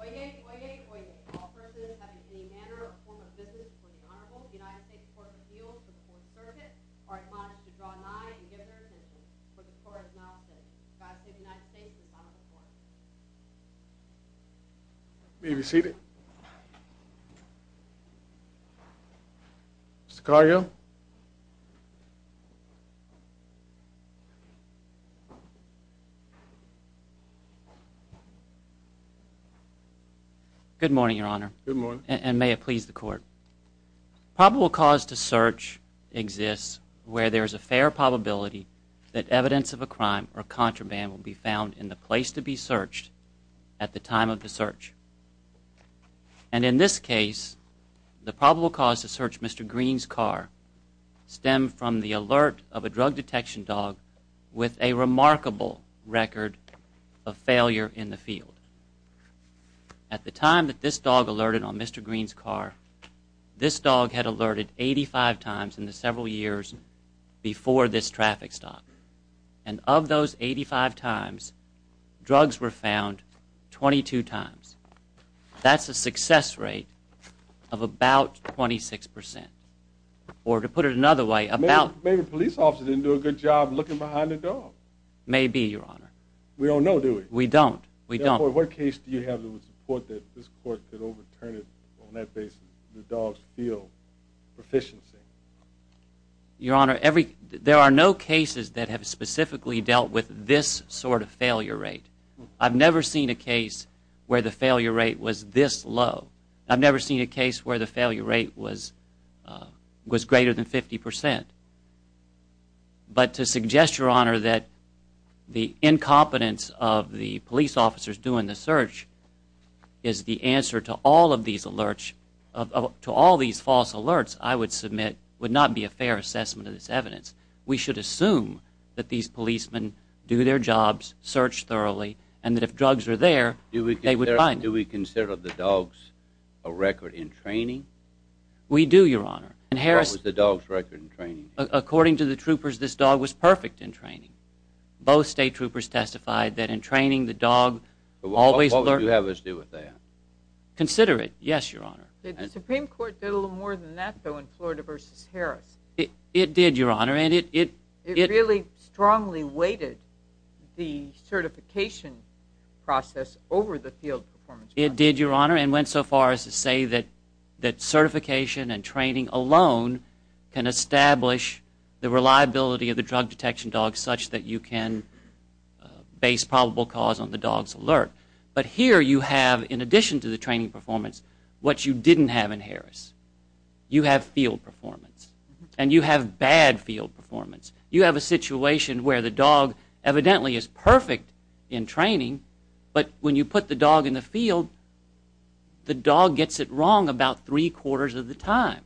Oyez, oyez, oyez. All persons having any manner or form of business before the Honorable United States Court of Appeals or the Court of Service are admonished to draw an eye and give their attention to the court's announcement. God save the United States and the Republic for which it stands, one and all. Good morning, Your Honor. Good morning. And may it please the court. Probable cause to search exists where there is a fair probability that evidence of a crime or contraband will be found in the place to be searched at the time of the search. And in this case, the probable cause to search Mr. Green's car stemmed from the alert of a drug detection dog with a remarkable record of failure in the field. At the time that this dog alerted on Mr. Green's car, this dog had alerted 85 times in the several years before this traffic stop. And of those 85 times, drugs were found 22 times. That's a success rate of about 26%. Or to put it another way, about... Maybe the police officer didn't do a good job looking behind the door. Maybe, Your Honor. We don't know, do we? We don't. We don't. What case do you have that would support that this court could overturn it on that basis, the dog's field proficiency? Your Honor, there are no cases that have specifically dealt with this sort of failure rate. I've never seen a case where the failure rate was this low. I've never seen a case where the failure rate was greater than 50%. But to suggest, Your Honor, that the incompetence of the police officers doing the search is the answer to all of these alerts... To all these false alerts, I would submit, would not be a fair assessment of this evidence. We should assume that these policemen do their jobs, search thoroughly, and that if drugs are there, they would find... Do we consider the dogs a record in training? We do, Your Honor. What was the dog's record in training? According to the troopers, this dog was perfect in training. Both state troopers testified that in training, the dog always learned... What would you have us do with that? Consider it, yes, Your Honor. The Supreme Court did a little more than that, though, in Florida v. Harris. It did, Your Honor, and it... It really strongly weighted the certification process over the field performance. It did, Your Honor, and went so far as to say that certification and training alone can establish... The reliability of the drug detection dog such that you can base probable cause on the dog's alert. But here you have, in addition to the training performance, what you didn't have in Harris. You have field performance. And you have bad field performance. You have a situation where the dog evidently is perfect in training... But when you put the dog in the field, the dog gets it wrong about three-quarters of the time.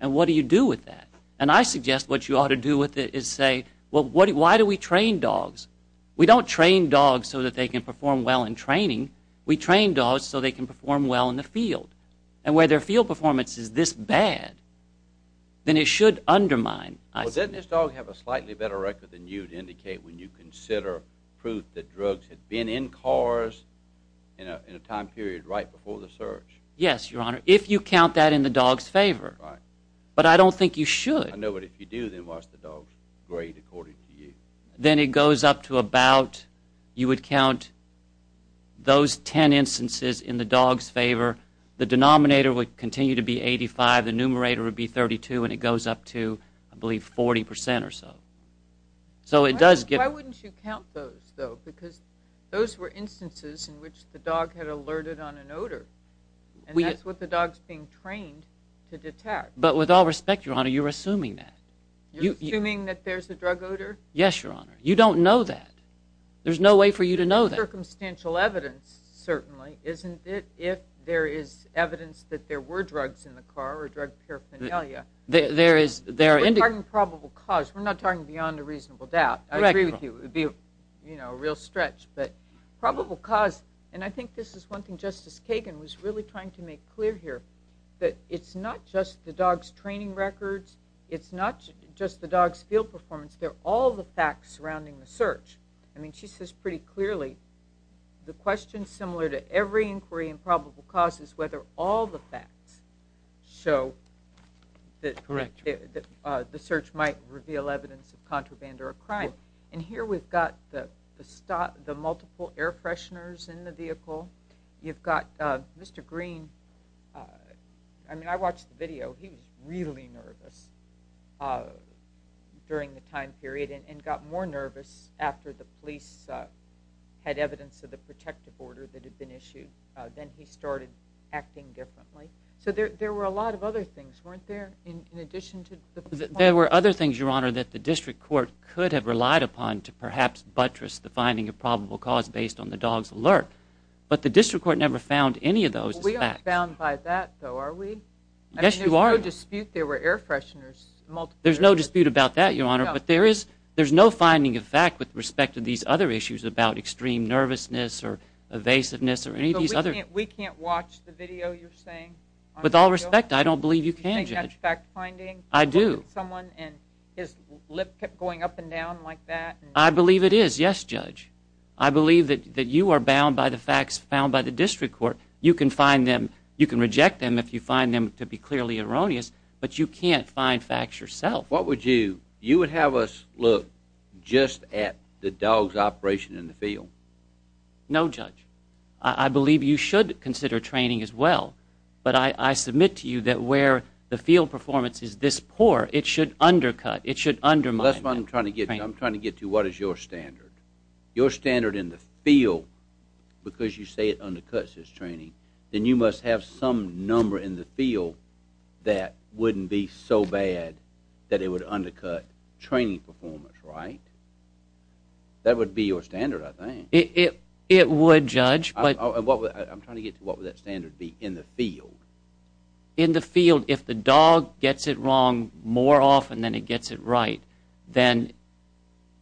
And what do you do with that? And I suggest what you ought to do with it is say, well, why do we train dogs? We don't train dogs so that they can perform well in training. We train dogs so they can perform well in the field. And where their field performance is this bad, then it should undermine... Well, doesn't this dog have a slightly better record than you to indicate when you consider proof that drugs have been in cars in a time period right before the search? Yes, Your Honor, if you count that in the dog's favor. Right. But I don't think you should. I know, but if you do, then why is the dog great according to you? Then it goes up to about... You would count those ten instances in the dog's favor. The denominator would continue to be 85. The numerator would be 32, and it goes up to, I believe, 40% or so. So it does get... Why wouldn't you count those, though? Because those were instances in which the dog had alerted on an odor. And that's what the dog's being trained to detect. But with all respect, Your Honor, you're assuming that. You're assuming that there's a drug odor? Yes, Your Honor. You don't know that. There's no way for you to know that. Circumstantial evidence, certainly, isn't it, if there is evidence that there were drugs in the car or drug paraphernalia? There is. We're talking probable cause. We're not talking beyond a reasonable doubt. I agree with you. It would be a real stretch. But probable cause, and I think this is one thing Justice Kagan was really trying to make clear here, that it's not just the dog's training records. It's not just the dog's field performance. They're all the facts surrounding the search. I mean, she says pretty clearly the question, similar to every inquiry in probable cause, is whether all the facts show that the search might reveal evidence of contraband or a crime. And here we've got the multiple air fresheners in the vehicle. You've got Mr. Green. I mean, I watched the video. He was really nervous during the time period and got more nervous after the police had evidence of the protective order that had been issued. Then he started acting differently. So there were a lot of other things, weren't there, in addition to the facts? There were other things, Your Honor, that the district court could have relied upon to perhaps buttress the finding of probable cause based on the dog's alert. But the district court never found any of those as facts. We aren't bound by that, though, are we? Yes, you are. There's no dispute there were air fresheners. There's no dispute about that, Your Honor, but there's no finding of fact with respect to these other issues about extreme nervousness or evasiveness or any of these other... So we can't watch the video you're saying? With all respect, I don't believe you can, Judge. Do you think that's fact-finding? I do. Look at someone and his lip kept going up and down like that? I believe it is, yes, Judge. I believe that you are bound by the facts found by the district court. You can find them. You can reject them if you find them to be clearly erroneous, but you can't find facts yourself. What would you... You would have us look just at the dog's operation in the field? No, Judge. I believe you should consider training as well, but I submit to you that where the field performance is this poor, it should undercut, it should undermine... That's what I'm trying to get to. I'm trying to get to what is your standard. Your standard in the field, because you say it undercuts his training, then you must have some number in the field that wouldn't be so bad that it would undercut training performance, right? That would be your standard, I think. It would, Judge. I'm trying to get to what would that standard be in the field. In the field, if the dog gets it wrong more often than it gets it right, then...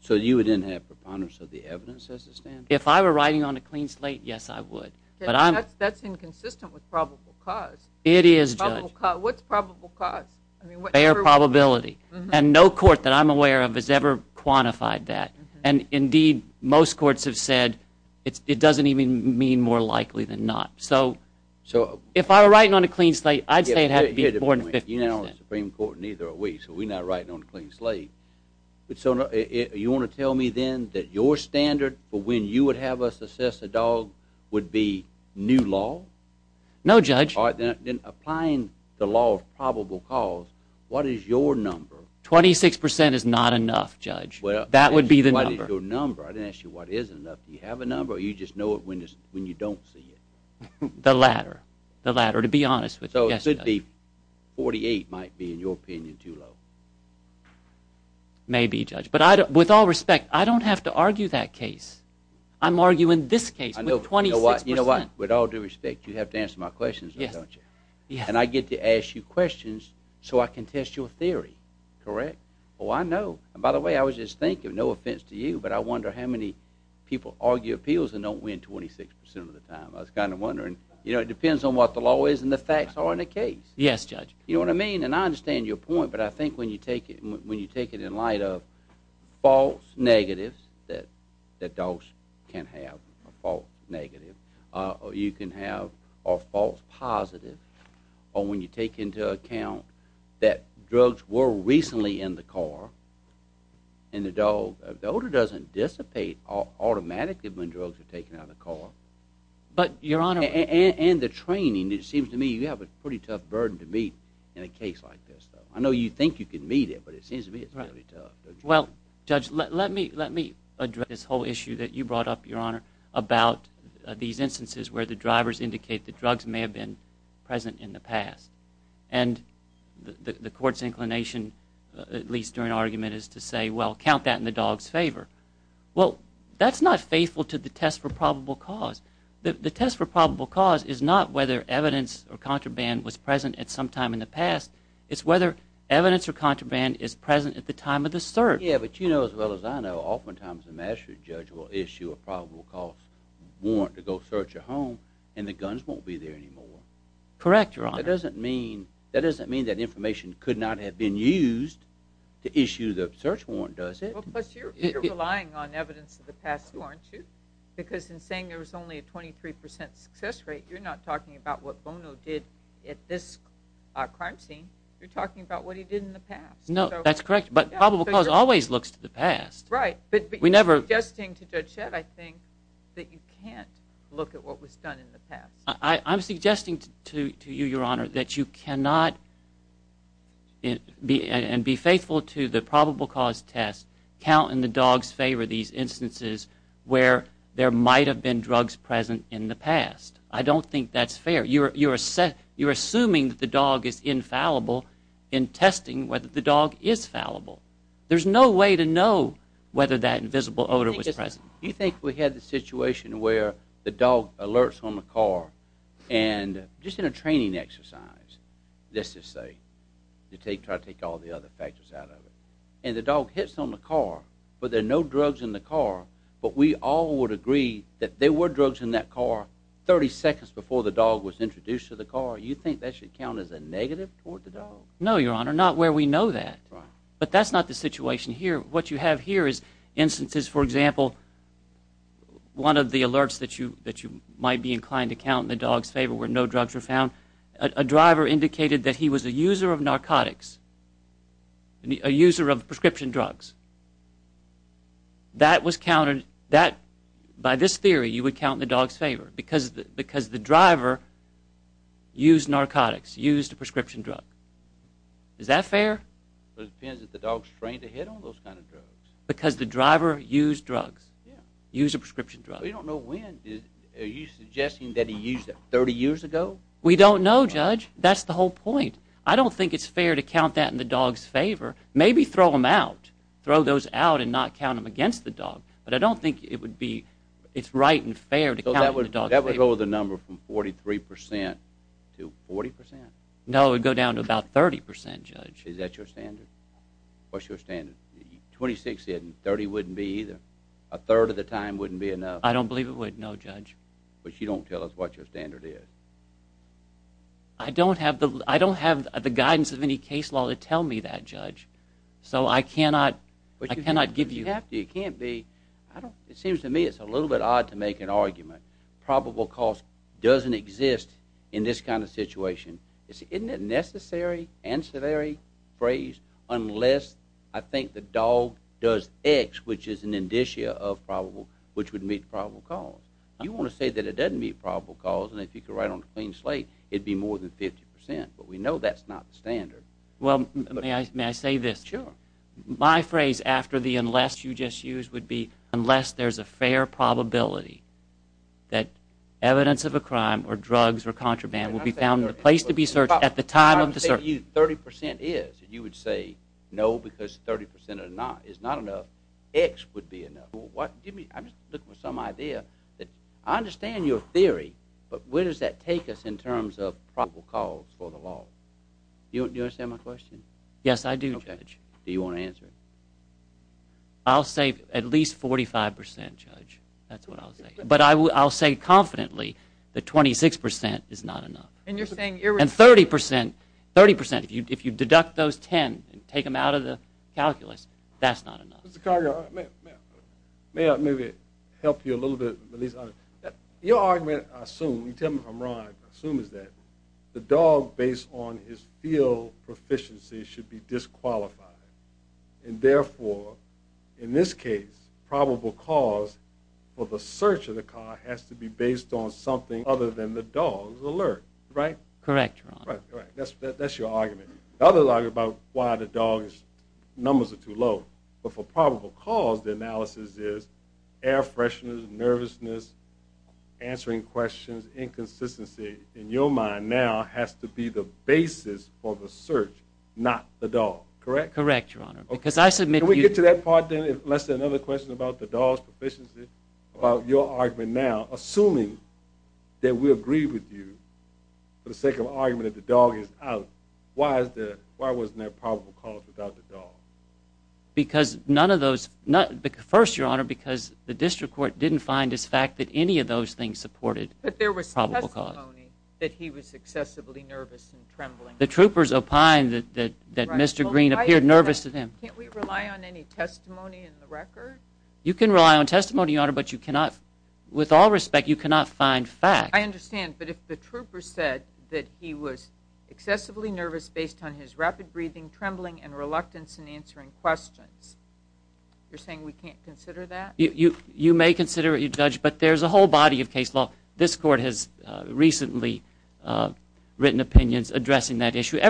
So you would then have preponderance of the evidence as a standard? If I were writing on a clean slate, yes, I would. That's inconsistent with probable cause. It is, Judge. What's probable cause? Fair probability, and no court that I'm aware of has ever quantified that. Indeed, most courts have said it doesn't even mean more likely than not. If I were writing on a clean slate, I'd say it had to be more than 50%. You're not on the Supreme Court, neither are we, so we're not writing on a clean slate. You want to tell me then that your standard for when you would have us assess a dog would be new law? No, Judge. Then applying the law of probable cause, what is your number? 26% is not enough, Judge. That would be the number. What is your number? I didn't ask you what is enough. Do you have a number, or do you just know it when you don't see it? The latter. The latter, to be honest with you. So it could be 48 might be, in your opinion, too low. Maybe, Judge. But with all respect, I don't have to argue that case. I'm arguing this case with 26%. You know what? With all due respect, you have to answer my questions now, don't you? And I get to ask you questions so I can test your theory, correct? Oh, I know. And by the way, I was just thinking, no offense to you, but I wonder how many people argue appeals and don't win 26% of the time. I was kind of wondering. You know, it depends on what the law is and the facts are in the case. Yes, Judge. You know what I mean? And I understand your point, but I think when you take it in light of false negatives that dogs can have, a false negative, or you can have a false positive, or when you take into account that drugs were recently in the car, and the dog, the odor doesn't dissipate automatically when drugs are taken out of the car. But, Your Honor. And the training. It seems to me you have a pretty tough burden to meet in a case like this, though. I know you think you can meet it, but it seems to me it's pretty tough. Well, Judge, let me address this whole issue that you brought up, Your Honor, about these instances where the drivers indicate that drugs may have been present in the past. And the court's inclination, at least during argument, is to say, well, count that in the dog's favor. Well, that's not faithful to the test for probable cause. The test for probable cause is not whether evidence or contraband was present at some time in the past. It's whether evidence or contraband is present at the time of the search. Yeah, but you know as well as I know, oftentimes the mastery judge will issue a probable cause warrant to go search a home, and the guns won't be there anymore. Correct, Your Honor. That doesn't mean that information could not have been used to issue the search warrant, does it? Well, plus you're relying on evidence of the past, too, aren't you? Because in saying there was only a 23% success rate, you're not talking about what Bono did at this crime scene. You're talking about what he did in the past. No, that's correct, but probable cause always looks to the past. Right, but you're suggesting to Judge Shedd, I think, that you can't look at what was done in the past. I'm suggesting to you, Your Honor, that you cannot and be faithful to the probable cause test, count in the dog's favor these instances where there might have been drugs present in the past. I don't think that's fair. You're assuming that the dog is infallible in testing whether the dog is fallible. There's no way to know whether that invisible odor was present. You think we had the situation where the dog alerts on the car and just in a training exercise, let's just say, to try to take all the other factors out of it, and the dog hits on the car, but there are no drugs in the car, but we all would agree that there were drugs in that car 30 seconds before the dog was introduced to the car. You think that should count as a negative toward the dog? No, Your Honor, not where we know that. Right. But that's not the situation here. What you have here is instances, for example, one of the alerts that you might be inclined to count in the dog's favor where no drugs were found, a driver indicated that he was a user of narcotics, a user of prescription drugs. That was counted, by this theory, you would count in the dog's favor because the driver used narcotics, used a prescription drug. Is that fair? It depends if the dog's trained to hit on those kind of drugs. Because the driver used drugs, used a prescription drug. But you don't know when. Are you suggesting that he used it 30 years ago? We don't know, Judge. That's the whole point. I don't think it's fair to count that in the dog's favor. Maybe throw them out, throw those out and not count them against the dog, but I don't think it's right and fair to count in the dog's favor. So that would go with the number from 43% to 40%? No, it would go down to about 30%, Judge. Is that your standard? What's your standard? 26% and 30% wouldn't be either. A third of the time wouldn't be enough. I don't believe it would, no, Judge. But you don't tell us what your standard is. I don't have the guidance of any case law to tell me that, Judge. So I cannot give you that. It seems to me it's a little bit odd to make an argument. Probable cause doesn't exist in this kind of situation. Isn't it a necessary, ancillary phrase, unless I think the dog does X, which is an indicia of probable, which would meet probable cause? You want to say that it doesn't meet probable cause, and if you could write it on a clean slate, it would be more than 50%. But we know that's not the standard. Well, may I say this? Sure. My phrase after the unless you just used would be, unless there's a fair probability that evidence of a crime or drugs or contraband will be found in the place to be searched at the time of the search. I'm saying 30% is, and you would say no because 30% is not enough. X would be enough. I'm just looking for some idea. I understand your theory, but where does that take us in terms of probable cause for the law? Do you understand my question? Yes, I do, Judge. Do you want to answer it? I'll say at least 45%, Judge. That's what I'll say. But I'll say confidently that 26% is not enough. And 30%, if you deduct those 10 and take them out of the calculus, that's not enough. Mr. Cargill, may I maybe help you a little bit? Your argument, I assume, you tell me if I'm wrong, I assume is that the dog, based on his field proficiency, should be disqualified, and therefore, in this case, probable cause for the search of the car has to be based on something other than the dog's alert, right? Correct, Your Honor. That's your argument. The other argument about why the dog's numbers are too low, but for probable cause, the analysis is air freshness, nervousness, answering questions, inconsistency, in your mind now, has to be the basis for the search, not the dog, correct? Correct, Your Honor. Can we get to that part then? Let's say another question about the dog's proficiency, about your argument now. Assuming that we agree with you for the sake of argument that the dog is out, why wasn't there probable cause without the dog? First, Your Honor, because the district court didn't find this fact that any of those things supported probable cause. But there was testimony that he was excessively nervous and trembling. The troopers opined that Mr. Green appeared nervous to them. Can't we rely on any testimony in the record? You can rely on testimony, Your Honor, but with all respect, you cannot find facts. I understand, but if the trooper said that he was excessively nervous based on his rapid breathing, trembling, and reluctance in answering questions, you're saying we can't consider that? You may consider it, Judge, but there's a whole body of case law. This court has recently written opinions addressing that issue.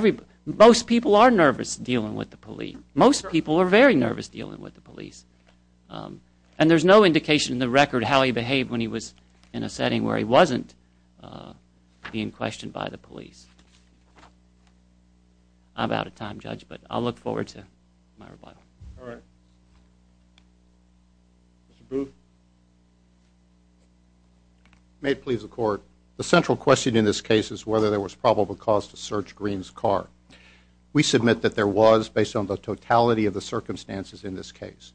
Most people are nervous dealing with the police. Most people are very nervous dealing with the police. And there's no indication in the record how he behaved when he was in a setting where he wasn't being questioned by the police. I'm out of time, Judge, but I'll look forward to my rebuttal. All right. Mr. Booth. May it please the Court. The central question in this case is whether there was probable cause to search Green's car. We submit that there was based on the totality of the circumstances in this case.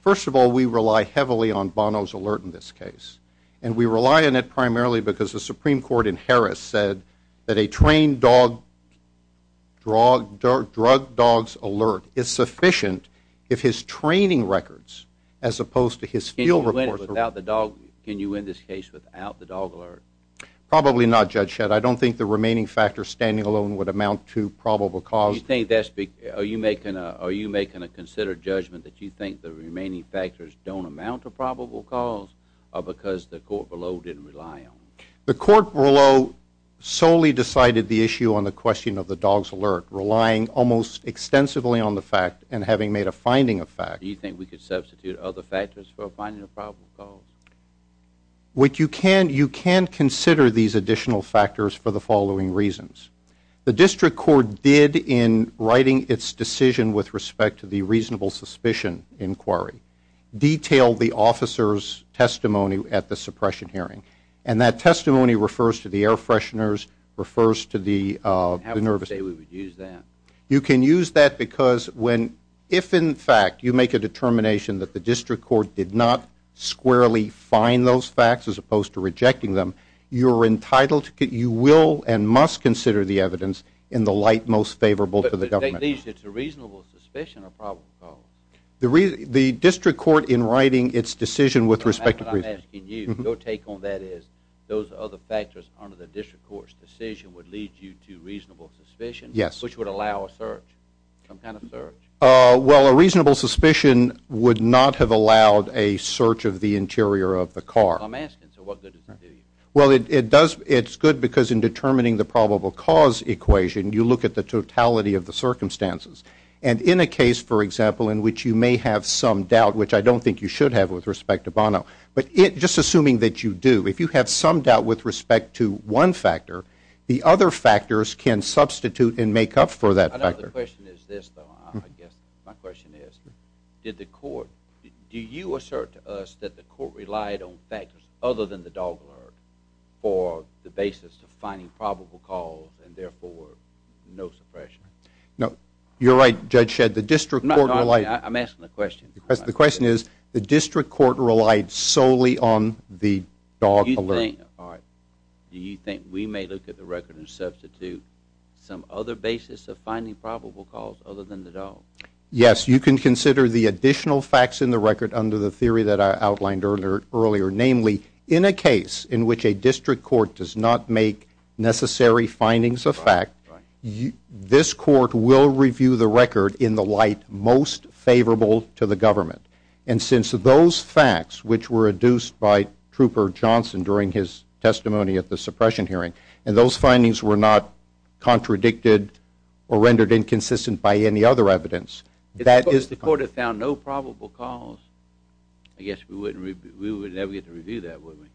First of all, we rely heavily on Bono's alert in this case, and we rely on it primarily because the Supreme Court in Harris said that a trained dog drug dog's alert is sufficient if his training records, as opposed to his field reports. Can you win this case without the dog alert? Probably not, Judge Shedd. I don't think the remaining factors standing alone would amount to probable cause. Are you making a considered judgment that you think the remaining factors don't amount to probable cause or because the court below didn't rely on it? The court below solely decided the issue on the question of the dog's alert, relying almost extensively on the fact and having made a finding of fact. Do you think we could substitute other factors for finding a probable cause? You can consider these additional factors for the following reasons. The district court did in writing its decision with respect to the reasonable suspicion inquiry detail the officer's testimony at the suppression hearing, and that testimony refers to the air fresheners, refers to the nervousness. How would you say we would use that? You can use that because if, in fact, you make a determination that the district court did not squarely find those facts as opposed to rejecting them, you will and must consider the evidence in the light most favorable to the government. But at least it's a reasonable suspicion or probable cause. The district court in writing its decision with respect to the reasonable suspicion inquiry detail your take on that is those other factors under the district court's decision would lead you to reasonable suspicion, which would allow a search, some kind of search. Well, a reasonable suspicion would not have allowed a search of the interior of the car. I'm asking, so what good does it do you? Well, it's good because in determining the probable cause equation, you look at the totality of the circumstances. And in a case, for example, in which you may have some doubt, which I don't think you should have with respect to Bono, but just assuming that you do, if you have some doubt with respect to one factor, the other factors can substitute and make up for that factor. I don't know if the question is this, though. I guess my question is, did the court, do you assert to us that the court relied on factors other than the dog alert for the basis of finding probable cause and, therefore, no suppression? No, you're right, Judge Shedd. The district court relied. I'm asking the question. The question is, the district court relied solely on the dog alert. Do you think we may look at the record and substitute some other basis of finding probable cause other than the dog? Yes. You can consider the additional facts in the record under the theory that I outlined earlier, namely, in a case in which a district court does not make necessary findings of fact, this court will review the record in the light most favorable to the government. And since those facts, which were adduced by Trooper Johnson during his testimony at the suppression hearing, and those findings were not contradicted or rendered inconsistent by any other evidence, that is the point. If the court had found no probable cause, I guess we would never get to review that, would we?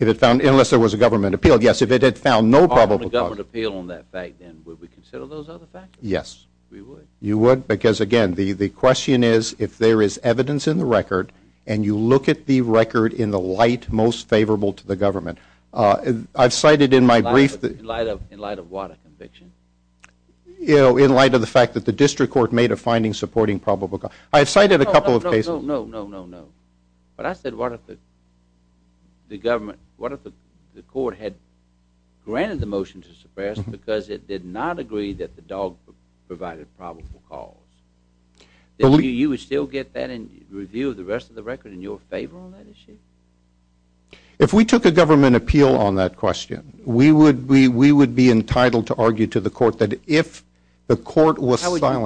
Unless there was a government appeal. Yes, if it had found no probable cause. If there was a government appeal on that fact, then would we consider those other factors? Yes. We would. You would? Because, again, the question is if there is evidence in the record and you look at the record in the light most favorable to the government. I've cited in my brief that- In light of what? A conviction? In light of the fact that the district court made a finding supporting probable cause. I've cited a couple of cases- No, no, no, no, no, no. But I said what if the government- what if the court had granted the motion to suppress because it did not agree that the dog provided probable cause? You would still get that and review the rest of the record in your favor on that issue? If we took a government appeal on that question, we would be entitled to argue to the court that if the court was silent- How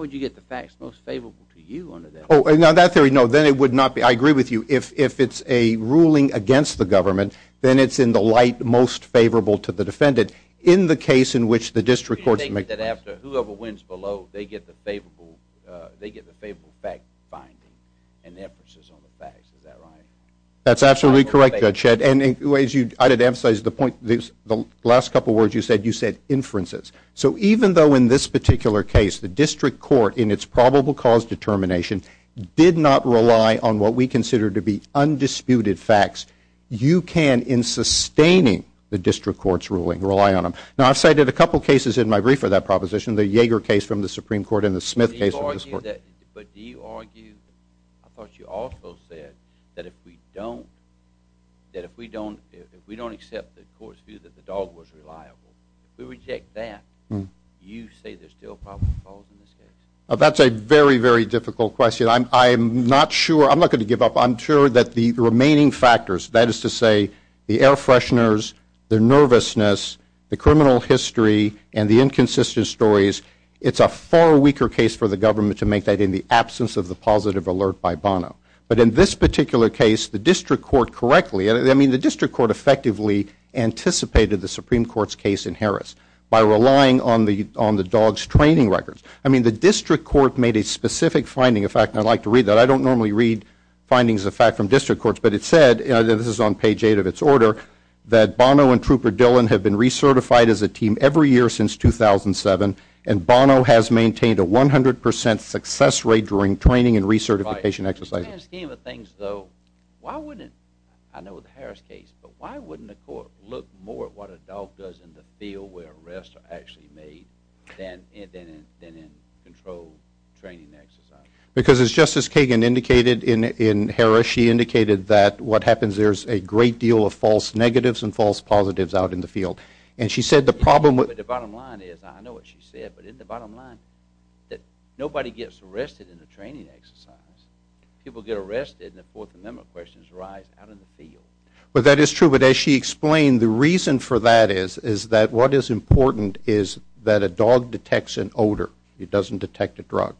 would you get the facts most favorable to you under that? Now, that theory, no. Then it would not be. I agree with you. If it's a ruling against the government, then it's in the light most favorable to the defendant. In the case in which the district court- Do you take it that after whoever wins below, they get the favorable fact finding and the emphasis on the facts? Is that right? That's absolutely correct, Judge Shedd. I did emphasize the point- the last couple of words you said, you said inferences. So even though in this particular case, the district court in its probable cause determination did not rely on what we consider to be undisputed facts, you can, in sustaining the district court's ruling, rely on them. Now, I've cited a couple of cases in my brief for that proposition, the Yeager case from the Supreme Court and the Smith case- But do you argue- I thought you also said that if we don't- that if we don't accept the court's view that the dog was reliable, if we reject that, you say there's still probable cause in this case? That's a very, very difficult question. I'm not sure- I'm not going to give up. I'm sure that the remaining factors- that is to say the air fresheners, the nervousness, the criminal history, and the inconsistent stories- it's a far weaker case for the government to make that in the absence of the positive alert by Bono. But in this particular case, the district court correctly- I mean, the district court effectively anticipated the Supreme Court's case in Harris by relying on the dog's training records. I mean, the district court made a specific finding. In fact, I'd like to read that. I don't normally read findings of fact from district courts, but it said- this is on page 8 of its order- that Bono and Trooper Dillon have been recertified as a team every year since 2007, and Bono has maintained a 100 percent success rate during training and recertification exercises. In the scheme of things, though, why wouldn't- what a dog does in the field where arrests are actually made than in controlled training exercises? Because as Justice Kagan indicated in Harris, she indicated that what happens- there's a great deal of false negatives and false positives out in the field. And she said the problem- But the bottom line is- I know what she said, but isn't the bottom line that nobody gets arrested in a training exercise? People get arrested, and the Fourth Amendment questions rise out in the field. Well, that is true, but as she explained, the reason for that is that what is important is that a dog detects an odor. It doesn't detect a drug.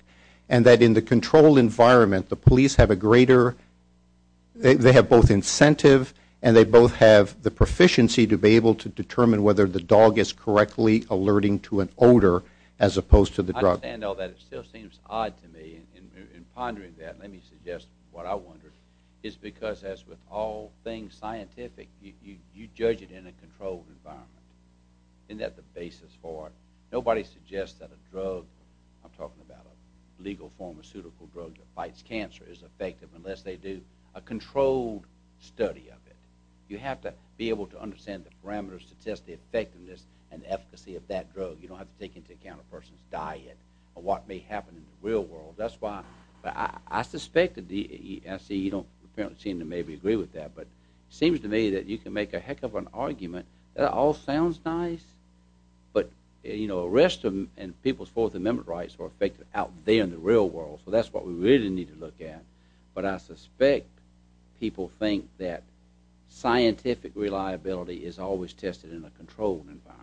And that in the controlled environment, the police have a greater- they have both incentive and they both have the proficiency to be able to determine whether the dog is correctly alerting to an odor as opposed to the drug. I understand all that. It still seems odd to me in pondering that. Let me suggest what I wondered. It's because, as with all things scientific, you judge it in a controlled environment. Isn't that the basis for it? Nobody suggests that a drug- I'm talking about a legal pharmaceutical drug that fights cancer- is effective unless they do a controlled study of it. You have to be able to understand the parameters to test the effectiveness and efficacy of that drug. You don't have to take into account a person's diet or what may happen in the real world. That's why I suspected the- I see you don't apparently seem to maybe agree with that, but it seems to me that you can make a heck of an argument. That all sounds nice, but arrest and people's Fourth Amendment rights are effective out there in the real world, so that's what we really need to look at. But I suspect people think that scientific reliability is always tested in a controlled environment.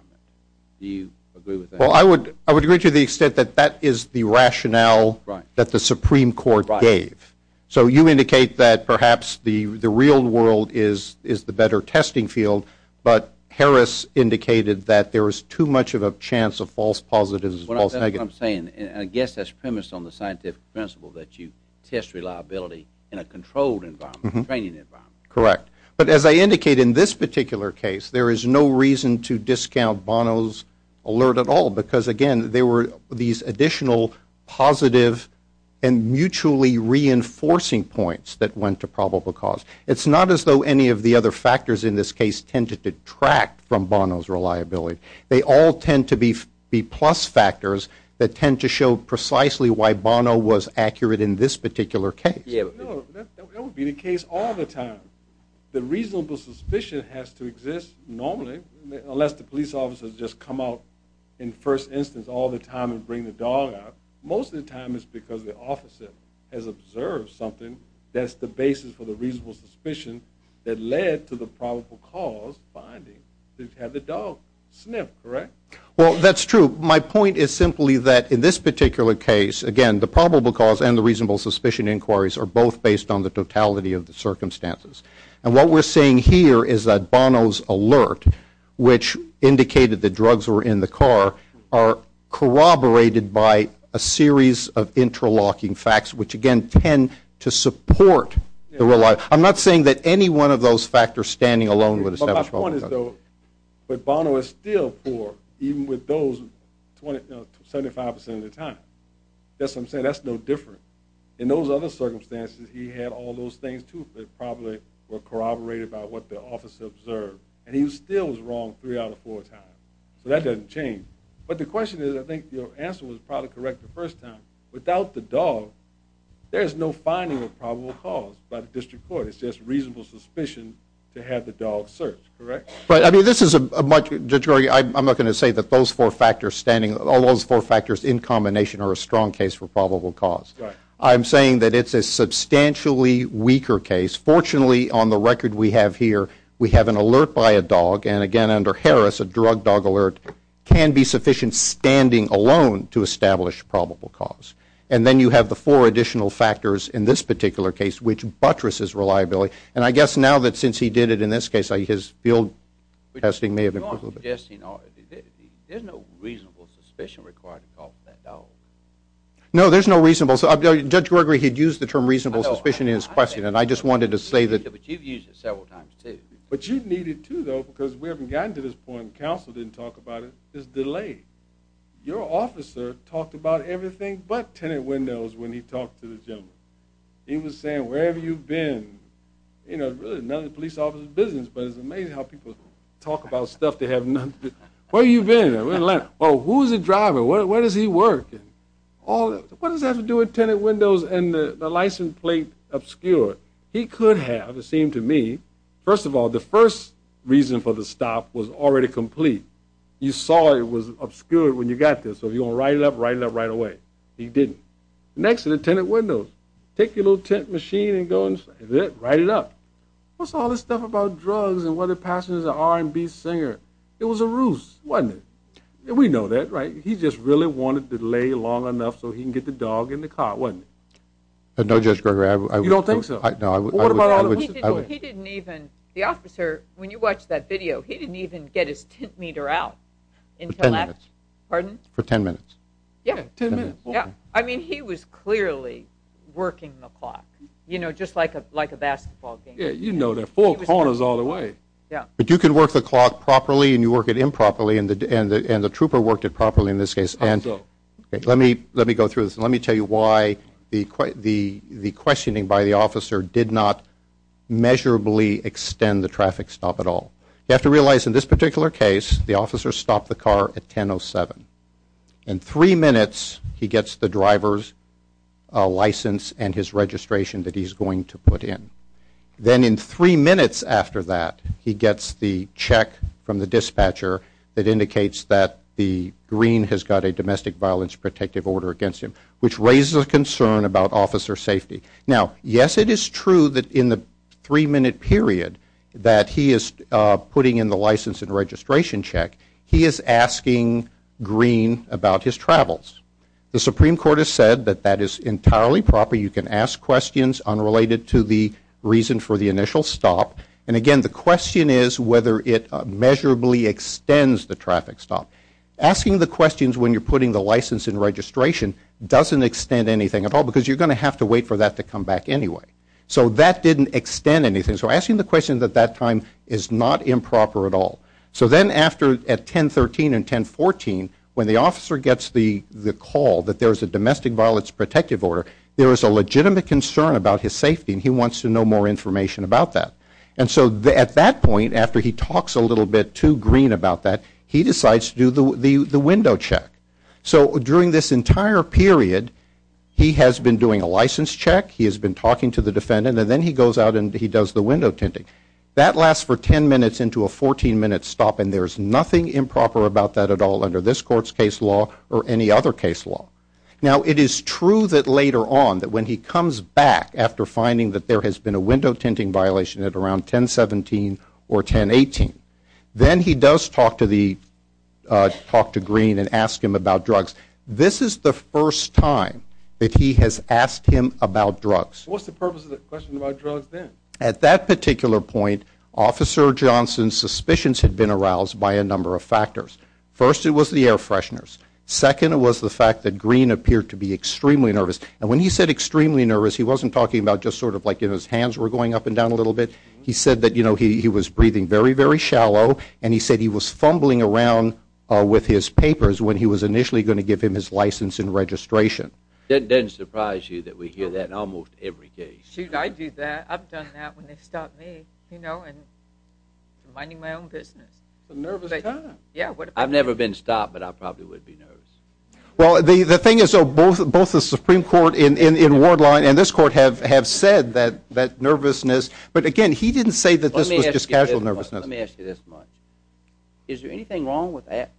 Do you agree with that? Well, I would agree to the extent that that is the rationale that the Supreme Court gave. So you indicate that perhaps the real world is the better testing field, but Harris indicated that there is too much of a chance of false positives and false negatives. Well, that's what I'm saying, and I guess that's premised on the scientific principle that you test reliability in a controlled environment, a training environment. Correct. But as I indicate, in this particular case, there is no reason to discount Bono's alert at all, because, again, there were these additional positive and mutually reinforcing points that went to probable cause. It's not as though any of the other factors in this case tend to detract from Bono's reliability. They all tend to be plus factors that tend to show precisely why Bono was accurate in this particular case. No, that would be the case all the time. The reasonable suspicion has to exist normally, unless the police officers just come out in the first instance all the time and bring the dog out. Most of the time it's because the officer has observed something that's the basis for the reasonable suspicion that led to the probable cause finding that he had the dog sniffed. Correct? Well, that's true. My point is simply that in this particular case, again, the probable cause and the reasonable suspicion inquiries are both based on the totality of the circumstances. And what we're seeing here is that Bono's alert, which indicated that drugs were in the car, are corroborated by a series of interlocking facts, which, again, tend to support the reliability. I'm not saying that any one of those factors standing alone would establish probable cause. But my point is, though, that Bono is still poor, even with those 75% of the time. That's what I'm saying. That's no different. In those other circumstances, he had all those things, too, that probably were corroborated by what the officer observed. And he still was wrong three out of four times. So that doesn't change. But the question is, I think your answer was probably correct the first time, without the dog, there is no finding of probable cause by the district court. It's just reasonable suspicion to have the dog searched. Correct? But, I mean, this is a much... Judge Rory, I'm not going to say that those four factors standing, all those four factors in combination, are a strong case for probable cause. I'm saying that it's a substantially weaker case. Fortunately, on the record we have here, we have an alert by a dog. And, again, under Harris, a drug dog alert can be sufficient standing alone to establish probable cause. And then you have the four additional factors in this particular case which buttresses reliability. And I guess now that since he did it in this case, his field testing may have improved. There's no reasonable suspicion required to call for that dog. No, there's no reasonable... Judge Gregory had used the term reasonable suspicion in his question, and I just wanted to say that... But you've used it several times, too. But you need it, too, though, because we haven't gotten to this point. Counsel didn't talk about it. There's a delay. Your officer talked about everything but tenant windows when he talked to the gentleman. He was saying, wherever you've been. You know, really none of the police officer's business, but it's amazing how people talk about stuff they have none... Where have you been? Well, who's the driver? Where does he work? What does that have to do with tenant windows and the license plate obscured? He could have, it seemed to me, First of all, the first reason for the stop was already complete. You saw it was obscured when you got there, so if you're going to write it up, write it up right away. He didn't. Next to the tenant windows, take your little tent machine and go and write it up. What's all this stuff about drugs and whether the passenger's an R&B singer? It was a ruse, wasn't it? We know that, right? He just really wanted the delay long enough so he can get the dog in the car, wasn't it? No, Judge Gregory, I... You don't think so? No, I... He didn't even... The officer, when you watched that video, he didn't even get his tent meter out until after... For ten minutes. Pardon? For ten minutes. Yeah, ten minutes. I mean, he was clearly working the clock, you know, just like a basketball game. Yeah, you know, they're four corners all the way. Yeah. But you can work the clock properly and you work it improperly, and the trooper worked it properly in this case. How so? Let me go through this. Let me tell you why the questioning by the officer did not measurably extend the traffic stop at all. You have to realize in this particular case, the officer stopped the car at 10.07. In three minutes, he gets the driver's license and his registration that he's going to put in. Then in three minutes after that, he gets the check from the dispatcher that indicates that the green has got a domestic violence protective order against him, which raises a concern about officer safety. Now, yes, it is true that in the three-minute period that he is putting in the license and registration check, he is asking green about his travels. The Supreme Court has said that that is entirely proper. You can ask questions unrelated to the reason for the initial stop. And again, the question is whether it measurably extends the traffic stop. Asking the questions when you're putting the license and registration doesn't extend anything at all because you're going to have to wait for that to come back anyway. So that didn't extend anything. So asking the question at that time is not improper at all. So then at 10.13 and 10.14, when the officer gets the call that there is a domestic violence protective order, there is a legitimate concern about his safety, and he wants to know more information about that. And so at that point, after he talks a little bit to green about that, he decides to do the window check. So during this entire period, he has been doing a license check, he has been talking to the defendant, and then he goes out and he does the window tinting. That lasts for 10 minutes into a 14-minute stop, and there is nothing improper about that at all under this Court's case law or any other case law. Now, it is true that later on, that when he comes back after finding that there has been a window tinting violation at around 10.17 or 10.18, then he does talk to green and ask him about drugs. This is the first time that he has asked him about drugs. What was the purpose of the question about drugs then? At that particular point, Officer Johnson's suspicions had been aroused by a number of factors. First, it was the air fresheners. Second, it was the fact that green appeared to be extremely nervous. And when he said extremely nervous, he wasn't talking about just sort of like his hands were going up and down a little bit. He said that he was breathing very, very shallow, and he said he was fumbling around with his papers when he was initially going to give him his license and registration. It doesn't surprise you that we hear that in almost every case. Shoot, I do that. I've done that when they've stopped me. You know, I'm minding my own business. It's a nervous time. I've never been stopped, but I probably would be nervous. Well, the thing is, both the Supreme Court in Ward 9 and this Court have said that nervousness, but again, he didn't say that this was just casual nervousness. Let me ask you this much. Is there anything wrong with that?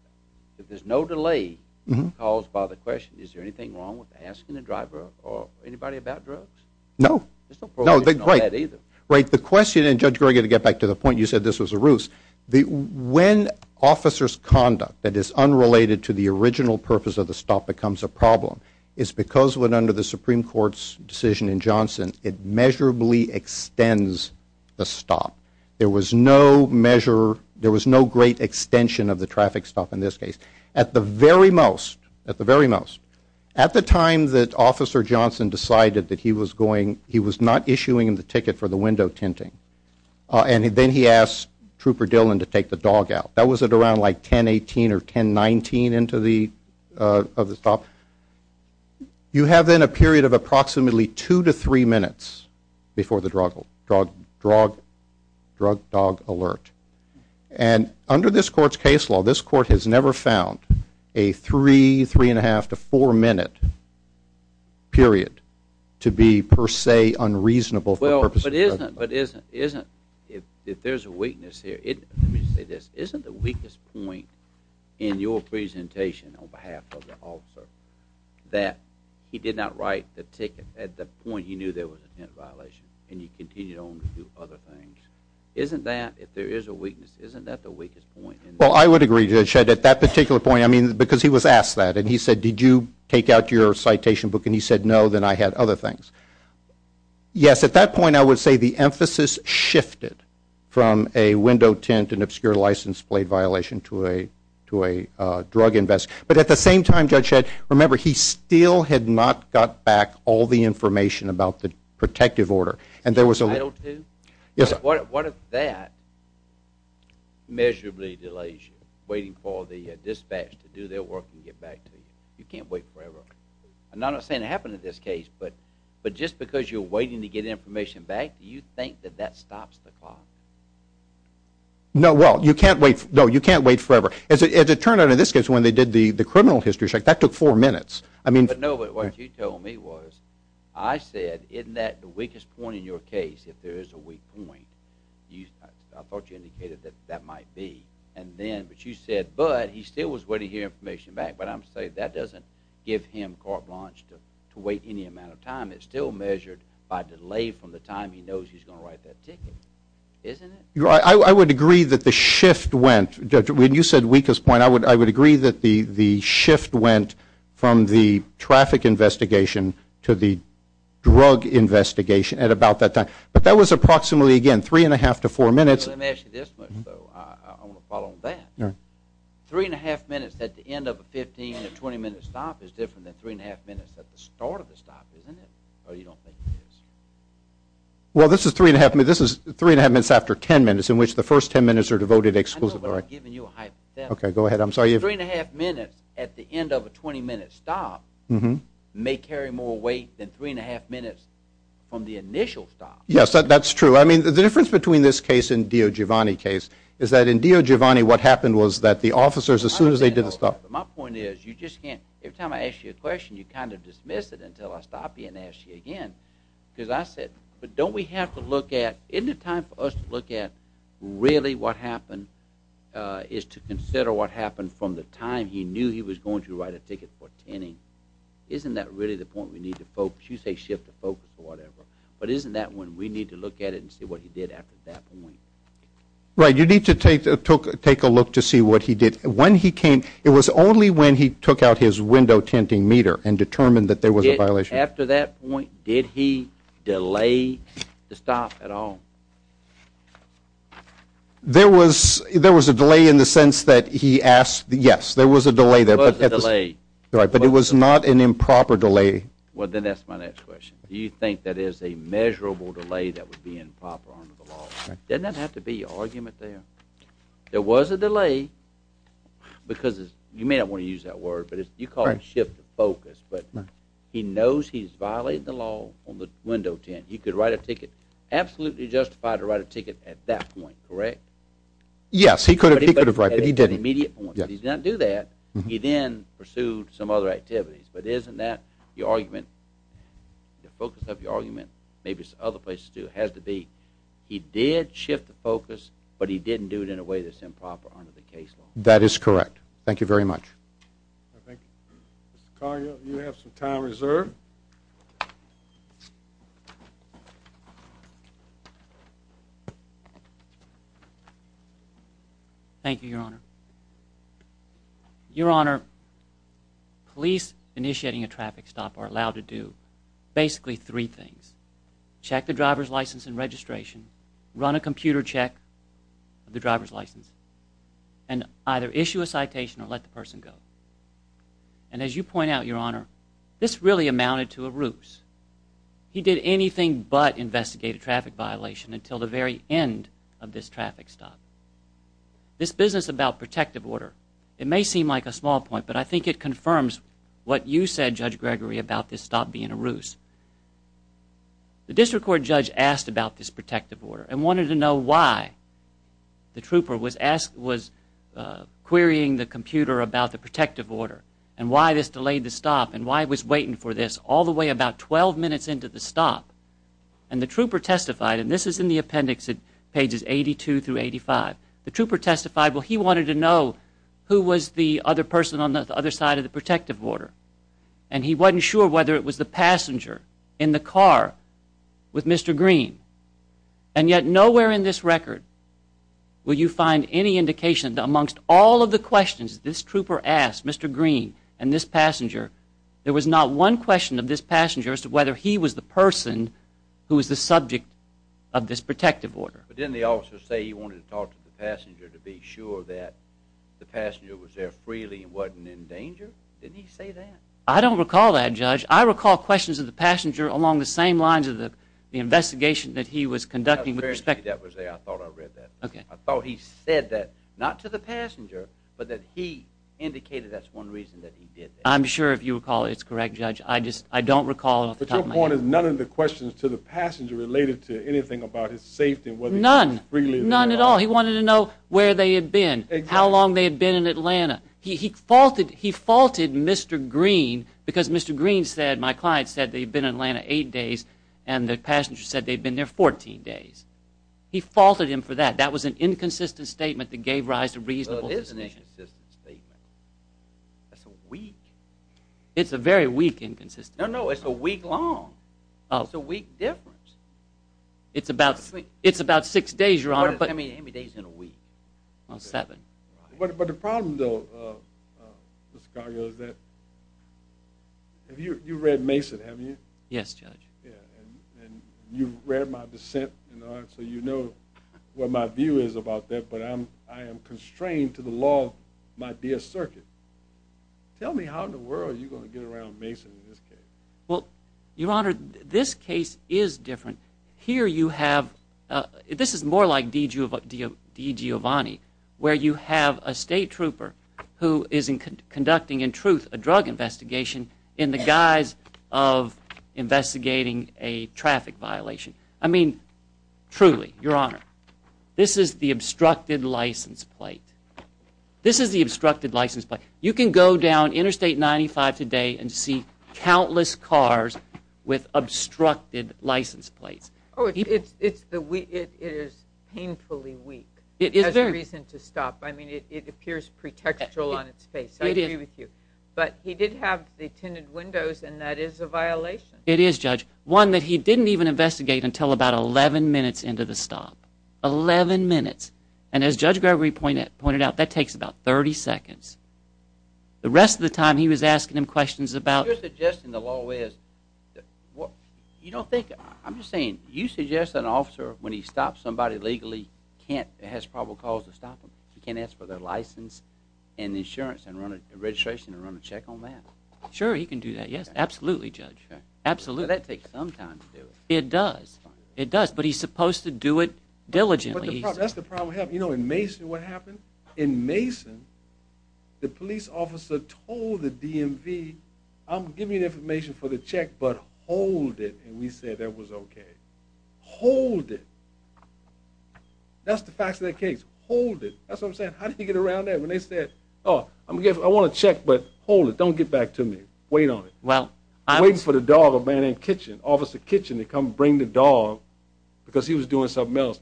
If there's no delay caused by the question, is there anything wrong with asking the driver or anybody about drugs? No. There's no problem with that either. Right. The question, and Judge Greger, to get back to the point, you said this was a ruse. When officer's conduct that is unrelated to the original purpose of the stop becomes a problem, it's because when under the Supreme Court's decision in Johnson, it measurably extends the stop. There was no measure. There was no great extension of the traffic stop in this case. At the very most, at the very most, at the time that Officer Johnson decided that he was going, he was not issuing him the ticket for the window tinting, and then he asked Trooper Dillon to take the dog out. That was at around like 1018 or 1019 into the stop. You have then a period of approximately two to three minutes before the drug dog alert. And under this court's case law, this court has never found a three, three-and-a-half to four-minute period to be per se unreasonable for purpose of the drug. But isn't, if there's a weakness here, let me say this, isn't the weakest point in your presentation on behalf of the officer that he did not write the ticket at the point he knew there was a tint violation and he continued on to do other things? Isn't that, if there is a weakness, isn't that the weakest point? Well, I would agree, Judge. At that particular point, I mean, because he was asked that, and he said, did you take out your citation book? And he said, no, then I had other things. Yes, at that point, I would say the emphasis shifted from a window tint and obscure license plate violation to a drug investigation. But at the same time, Judge, remember, he still had not got back all the information about the protective order. Title II? Yes, sir. What if that measurably delays you, waiting for the dispatch to do their work and get back to you? You can't wait forever. And I'm not saying it happened in this case, but just because you're waiting to get information back, do you think that that stops the clock? No, well, you can't wait forever. As it turned out in this case, when they did the criminal history check, that took four minutes. No, but what you told me was, I said, isn't that the weakest point in your case, if there is a weak point? I thought you indicated that that might be. But you said, but he still was waiting to get information back. But I'm saying that doesn't give him carte blanche to wait any amount of time. It's still measured by delay from the time he knows he's going to write that ticket. Isn't it? I would agree that the shift went, when you said weakest point, I would agree that the shift went from the traffic investigation to the drug investigation at about that time. But that was approximately, again, three-and-a-half to four minutes. Let me ask you this much, though. I want to follow on that. Three-and-a-half minutes at the end of a 15- to 20-minute stop is different than three-and-a-half minutes at the start of the stop, isn't it? Or you don't think it is? Well, this is three-and-a-half minutes after ten minutes, in which the first ten minutes are devoted exclusively. I know, but I'm giving you a hypothetical. Okay, go ahead. I'm sorry. Three-and-a-half minutes at the end of a 20-minute stop may carry more weight than three-and-a-half minutes from the initial stop. Yes, that's true. I mean, the difference between this case and Dio Giovanni's case is that in Dio Giovanni, what happened was that the officers, as soon as they did the stop my point is you just can't, every time I ask you a question, you kind of dismiss it until I stop you and ask you again. Because I said, but don't we have to look at, isn't it time for us to look at really what happened is to consider what happened from the time he knew he was going to write a ticket for tenning? Isn't that really the point we need to focus? You say shift the focus or whatever, but isn't that when we need to look at it and see what he did after that point? Right, you need to take a look to see what he did. When he came, it was only when he took out his window-tinting meter and determined that there was a violation. After that point, did he delay the stop at all? There was a delay in the sense that he asked, yes, there was a delay there. There was a delay. Right, but it was not an improper delay. Well, then that's my next question. Do you think that is a measurable delay that would be improper under the law? Doesn't that have to be your argument there? There was a delay because you may not want to use that word, but you call it shift the focus, but he knows he's violating the law on the window tint. He could write a ticket, absolutely justified to write a ticket at that point, correct? Yes, he could have, but he didn't. He did not do that. He then pursued some other activities, but isn't that your argument? The focus of your argument, maybe it's other places too, but it has to be he did shift the focus, but he didn't do it in a way that's improper under the case law. That is correct. Thank you very much. Mr. Cargill, you have some time reserved. Thank you, Your Honor. Your Honor, police initiating a traffic stop are allowed to do basically three things. Check the driver's license and registration, run a computer check of the driver's license, and either issue a citation or let the person go. And as you point out, Your Honor, this really amounted to a ruse. He did anything but investigate a traffic violation until the very end of this traffic stop. This business about protective order, it may seem like a small point, but I think it confirms what you said, Judge Gregory, about this stop being a ruse. The district court judge asked about this protective order and wanted to know why the trooper was querying the computer about the protective order and why this delayed the stop and why it was waiting for this all the way about 12 minutes into the stop. And the trooper testified, and this is in the appendix at pages 82 through 85. The trooper testified, well, he wanted to know who was the other person on the other side of the protective order. And he wasn't sure whether it was the passenger in the car with Mr. Green. And yet nowhere in this record will you find any indication that amongst all of the questions this trooper asked Mr. Green and this passenger, there was not one question of this passenger as to whether he was the person who was the subject of this protective order. But didn't the officer say he wanted to talk to the passenger to be sure that the passenger was there freely and wasn't in danger? Didn't he say that? I don't recall that, Judge. I recall questions of the passenger along the same lines of the investigation that he was conducting with respect to that. I thought I read that. Okay. I thought he said that, not to the passenger, but that he indicated that's one reason that he did that. I'm sure, if you recall, it's correct, Judge. I just don't recall off the top of my head. But your point is none of the questions to the passenger related to anything about his safety and whether he was freely in the car. None, none at all. He wanted to know where they had been, how long they had been in Atlanta. He faulted Mr. Green because Mr. Green said, my client said, they had been in Atlanta eight days, and the passenger said they had been there 14 days. He faulted him for that. That was an inconsistent statement that gave rise to reasonable suspicion. Well, it is an inconsistent statement. That's a week. It's a very weak inconsistent statement. No, no, it's a week long. It's a week difference. It's about six days, Your Honor. How many days in a week? Well, seven. But the problem, though, Mr. Cargill, is that you read Mason, haven't you? Yes, Judge. And you've read my dissent, so you know what my view is about that, but I am constrained to the law of my dear circuit. Tell me how in the world are you going to get around Mason in this case? Well, Your Honor, this case is different. Here you have, this is more like DiGiovanni, where you have a state trooper who is conducting, in truth, a drug investigation in the guise of investigating a traffic violation. I mean, truly, Your Honor, this is the obstructed license plate. This is the obstructed license plate. You can go down Interstate 95 today and see countless cars with obstructed license plates. Oh, it is painfully weak. It has a reason to stop. I mean, it appears pretextual on its face. I agree with you. But he did have the tinted windows, and that is a violation. It is, Judge. One that he didn't even investigate until about 11 minutes into the stop. 11 minutes. And as Judge Gregory pointed out, that takes about 30 seconds. The rest of the time, he was asking him questions about... You're suggesting the law is... You don't think... I'm just saying, you suggest that an officer, when he stops somebody legally, can't... has probable cause to stop them. He can't ask for their license and insurance and run a registration and run a check on that. Sure, he can do that, yes. Absolutely, Judge. Absolutely. That takes some time to do. It does. It does, but he's supposed to do it diligently. That's the problem. You know, in Mason, what happened? In Mason, the police officer told the DMV, I'm giving you information for the check, but hold it. And we said that was okay. Hold it. That's the facts of that case. Hold it. That's what I'm saying. How did he get around that when they said, Oh, I want a check, but hold it. Don't get back to me. Wait on it. Well, I'm... Waiting for the dog, a man named Kitchen, Officer Kitchen, to come bring the dog because he was doing something else.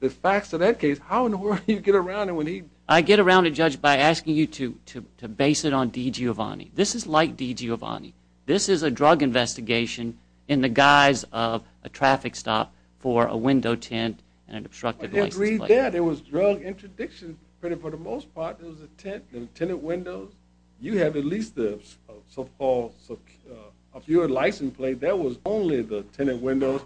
The facts of that case, how in the world do you get around it when he... I get around it, Judge, by asking you to base it on D. Giovanni. This is like D. Giovanni. This is a drug investigation in the guise of a traffic stop for a window tent and an obstructed license plate. I agree with that. It was drug interdiction for the most part. It was a tent and tenant windows. You have at least the so-called secure license plate. That was only the tenant windows,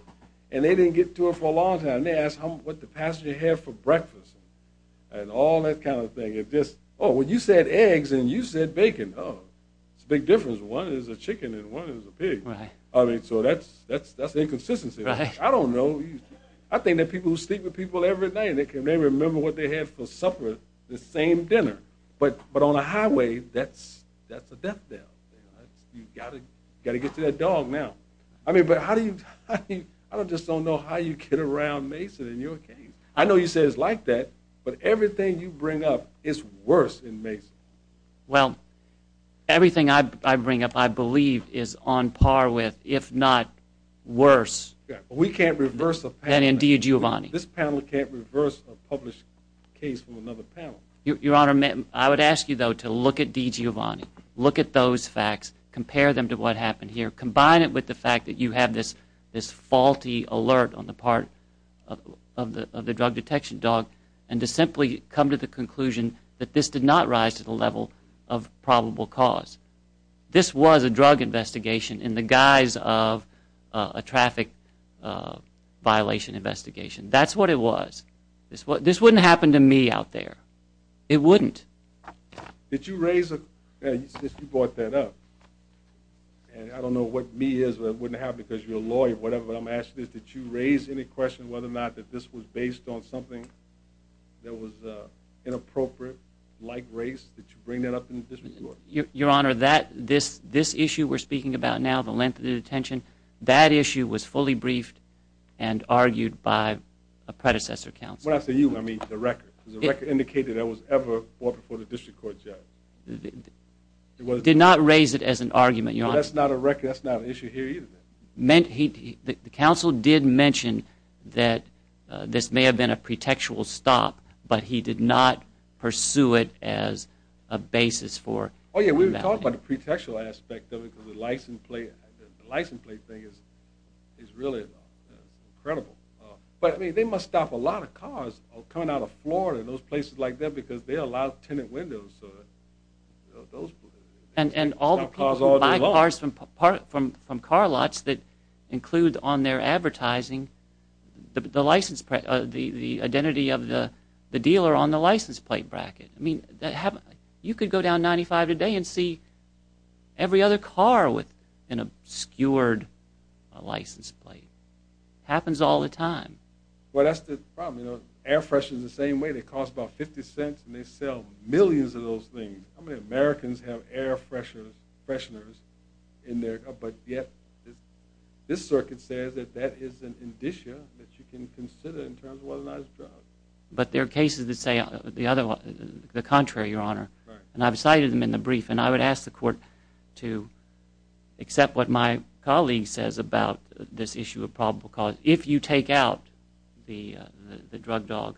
and they didn't get to it for a long time. They asked what the passenger had for breakfast and all that kind of thing. It's just, oh, well, you said eggs, and you said bacon. Oh, it's a big difference. One is a chicken, and one is a pig. Right. I mean, so that's inconsistency. I don't know. I think that people who sleep with people every night, they can never remember what they had for supper the same dinner. But on a highway, that's a death knell. You've got to get to that dog now. I mean, but how do you... I just don't know how you get around Mason and your case. I know you say it's like that, but everything you bring up is worse in Mason. Well, everything I bring up, I believe, is on par with, if not worse... We can't reverse a panel. ...than in DiGiovanni. This panel can't reverse a published case from another panel. Your Honor, I would ask you, though, to look at DiGiovanni. Look at those facts. Compare them to what happened here. Combine it with the fact that you have this faulty alert on the part of the drug detection dog and to simply come to the conclusion that this did not rise to the level of probable cause. This was a drug investigation in the guise of a traffic violation investigation. That's what it was. This wouldn't happen to me out there. It wouldn't. Did you raise a... You brought that up. And I don't know what me is, but it wouldn't happen because you're a lawyer or whatever. What I'm asking is, did you raise any question whether or not that this was based on something that was inappropriate, like race? Did you bring that up in the district court? Your Honor, this issue we're speaking about now, the length of the detention, that issue was fully briefed and argued by a predecessor counsel. When I say you, I mean the record. The record indicated it was ever brought before the district court judge. Did not raise it as an argument. That's not a record. That's not an issue here either. The counsel did mention that this may have been a pretextual stop, but he did not pursue it as a basis for... Oh, yeah. We were talking about the pretextual aspect of it because the license plate thing is really incredible. But, I mean, they must stop a lot of cars coming out of Florida and those places like that because they allow tenant windows. And all the people who buy cars from car lots that include on their advertising the identity of the dealer on the license plate bracket. I mean, you could go down 95 today and see every other car with an obscured license plate. Happens all the time. Well, that's the problem. Air fresheners are the same way. They cost about 50 cents, and they sell millions of those things. How many Americans have air fresheners in their... But yet, this circuit says that that is an indicia that you can consider in terms of whether or not it's a drug. But there are cases that say the contrary, Your Honor. Right. And I've cited them in the brief, and I would ask the court to accept what my colleague says about this issue of probable cause. If you take out the drug dog,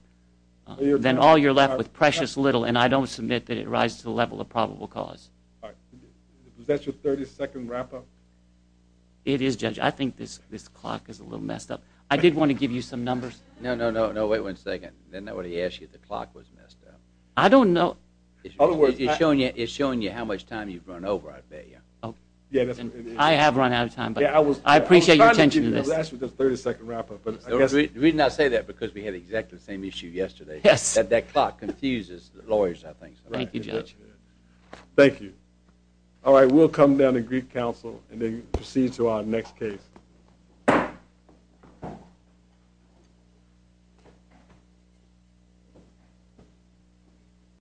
then all you're left with is precious little, and I don't submit that it rises to the level of probable cause. All right. Is that your 30-second wrap-up? It is, Judge. I think this clock is a little messed up. I did want to give you some numbers. No, no, no. Wait one second. Didn't nobody ask you if the clock was messed up? I don't know. It's showing you how much time you've run over, I bet you. I have run out of time, but I appreciate your attention to this. I was asking for the 30-second wrap-up. The reason I say that is because we had exactly the same issue yesterday. That clock confuses lawyers, I think. Thank you, Judge. Thank you. All right. We'll come down to Greek Council and then proceed to our next case.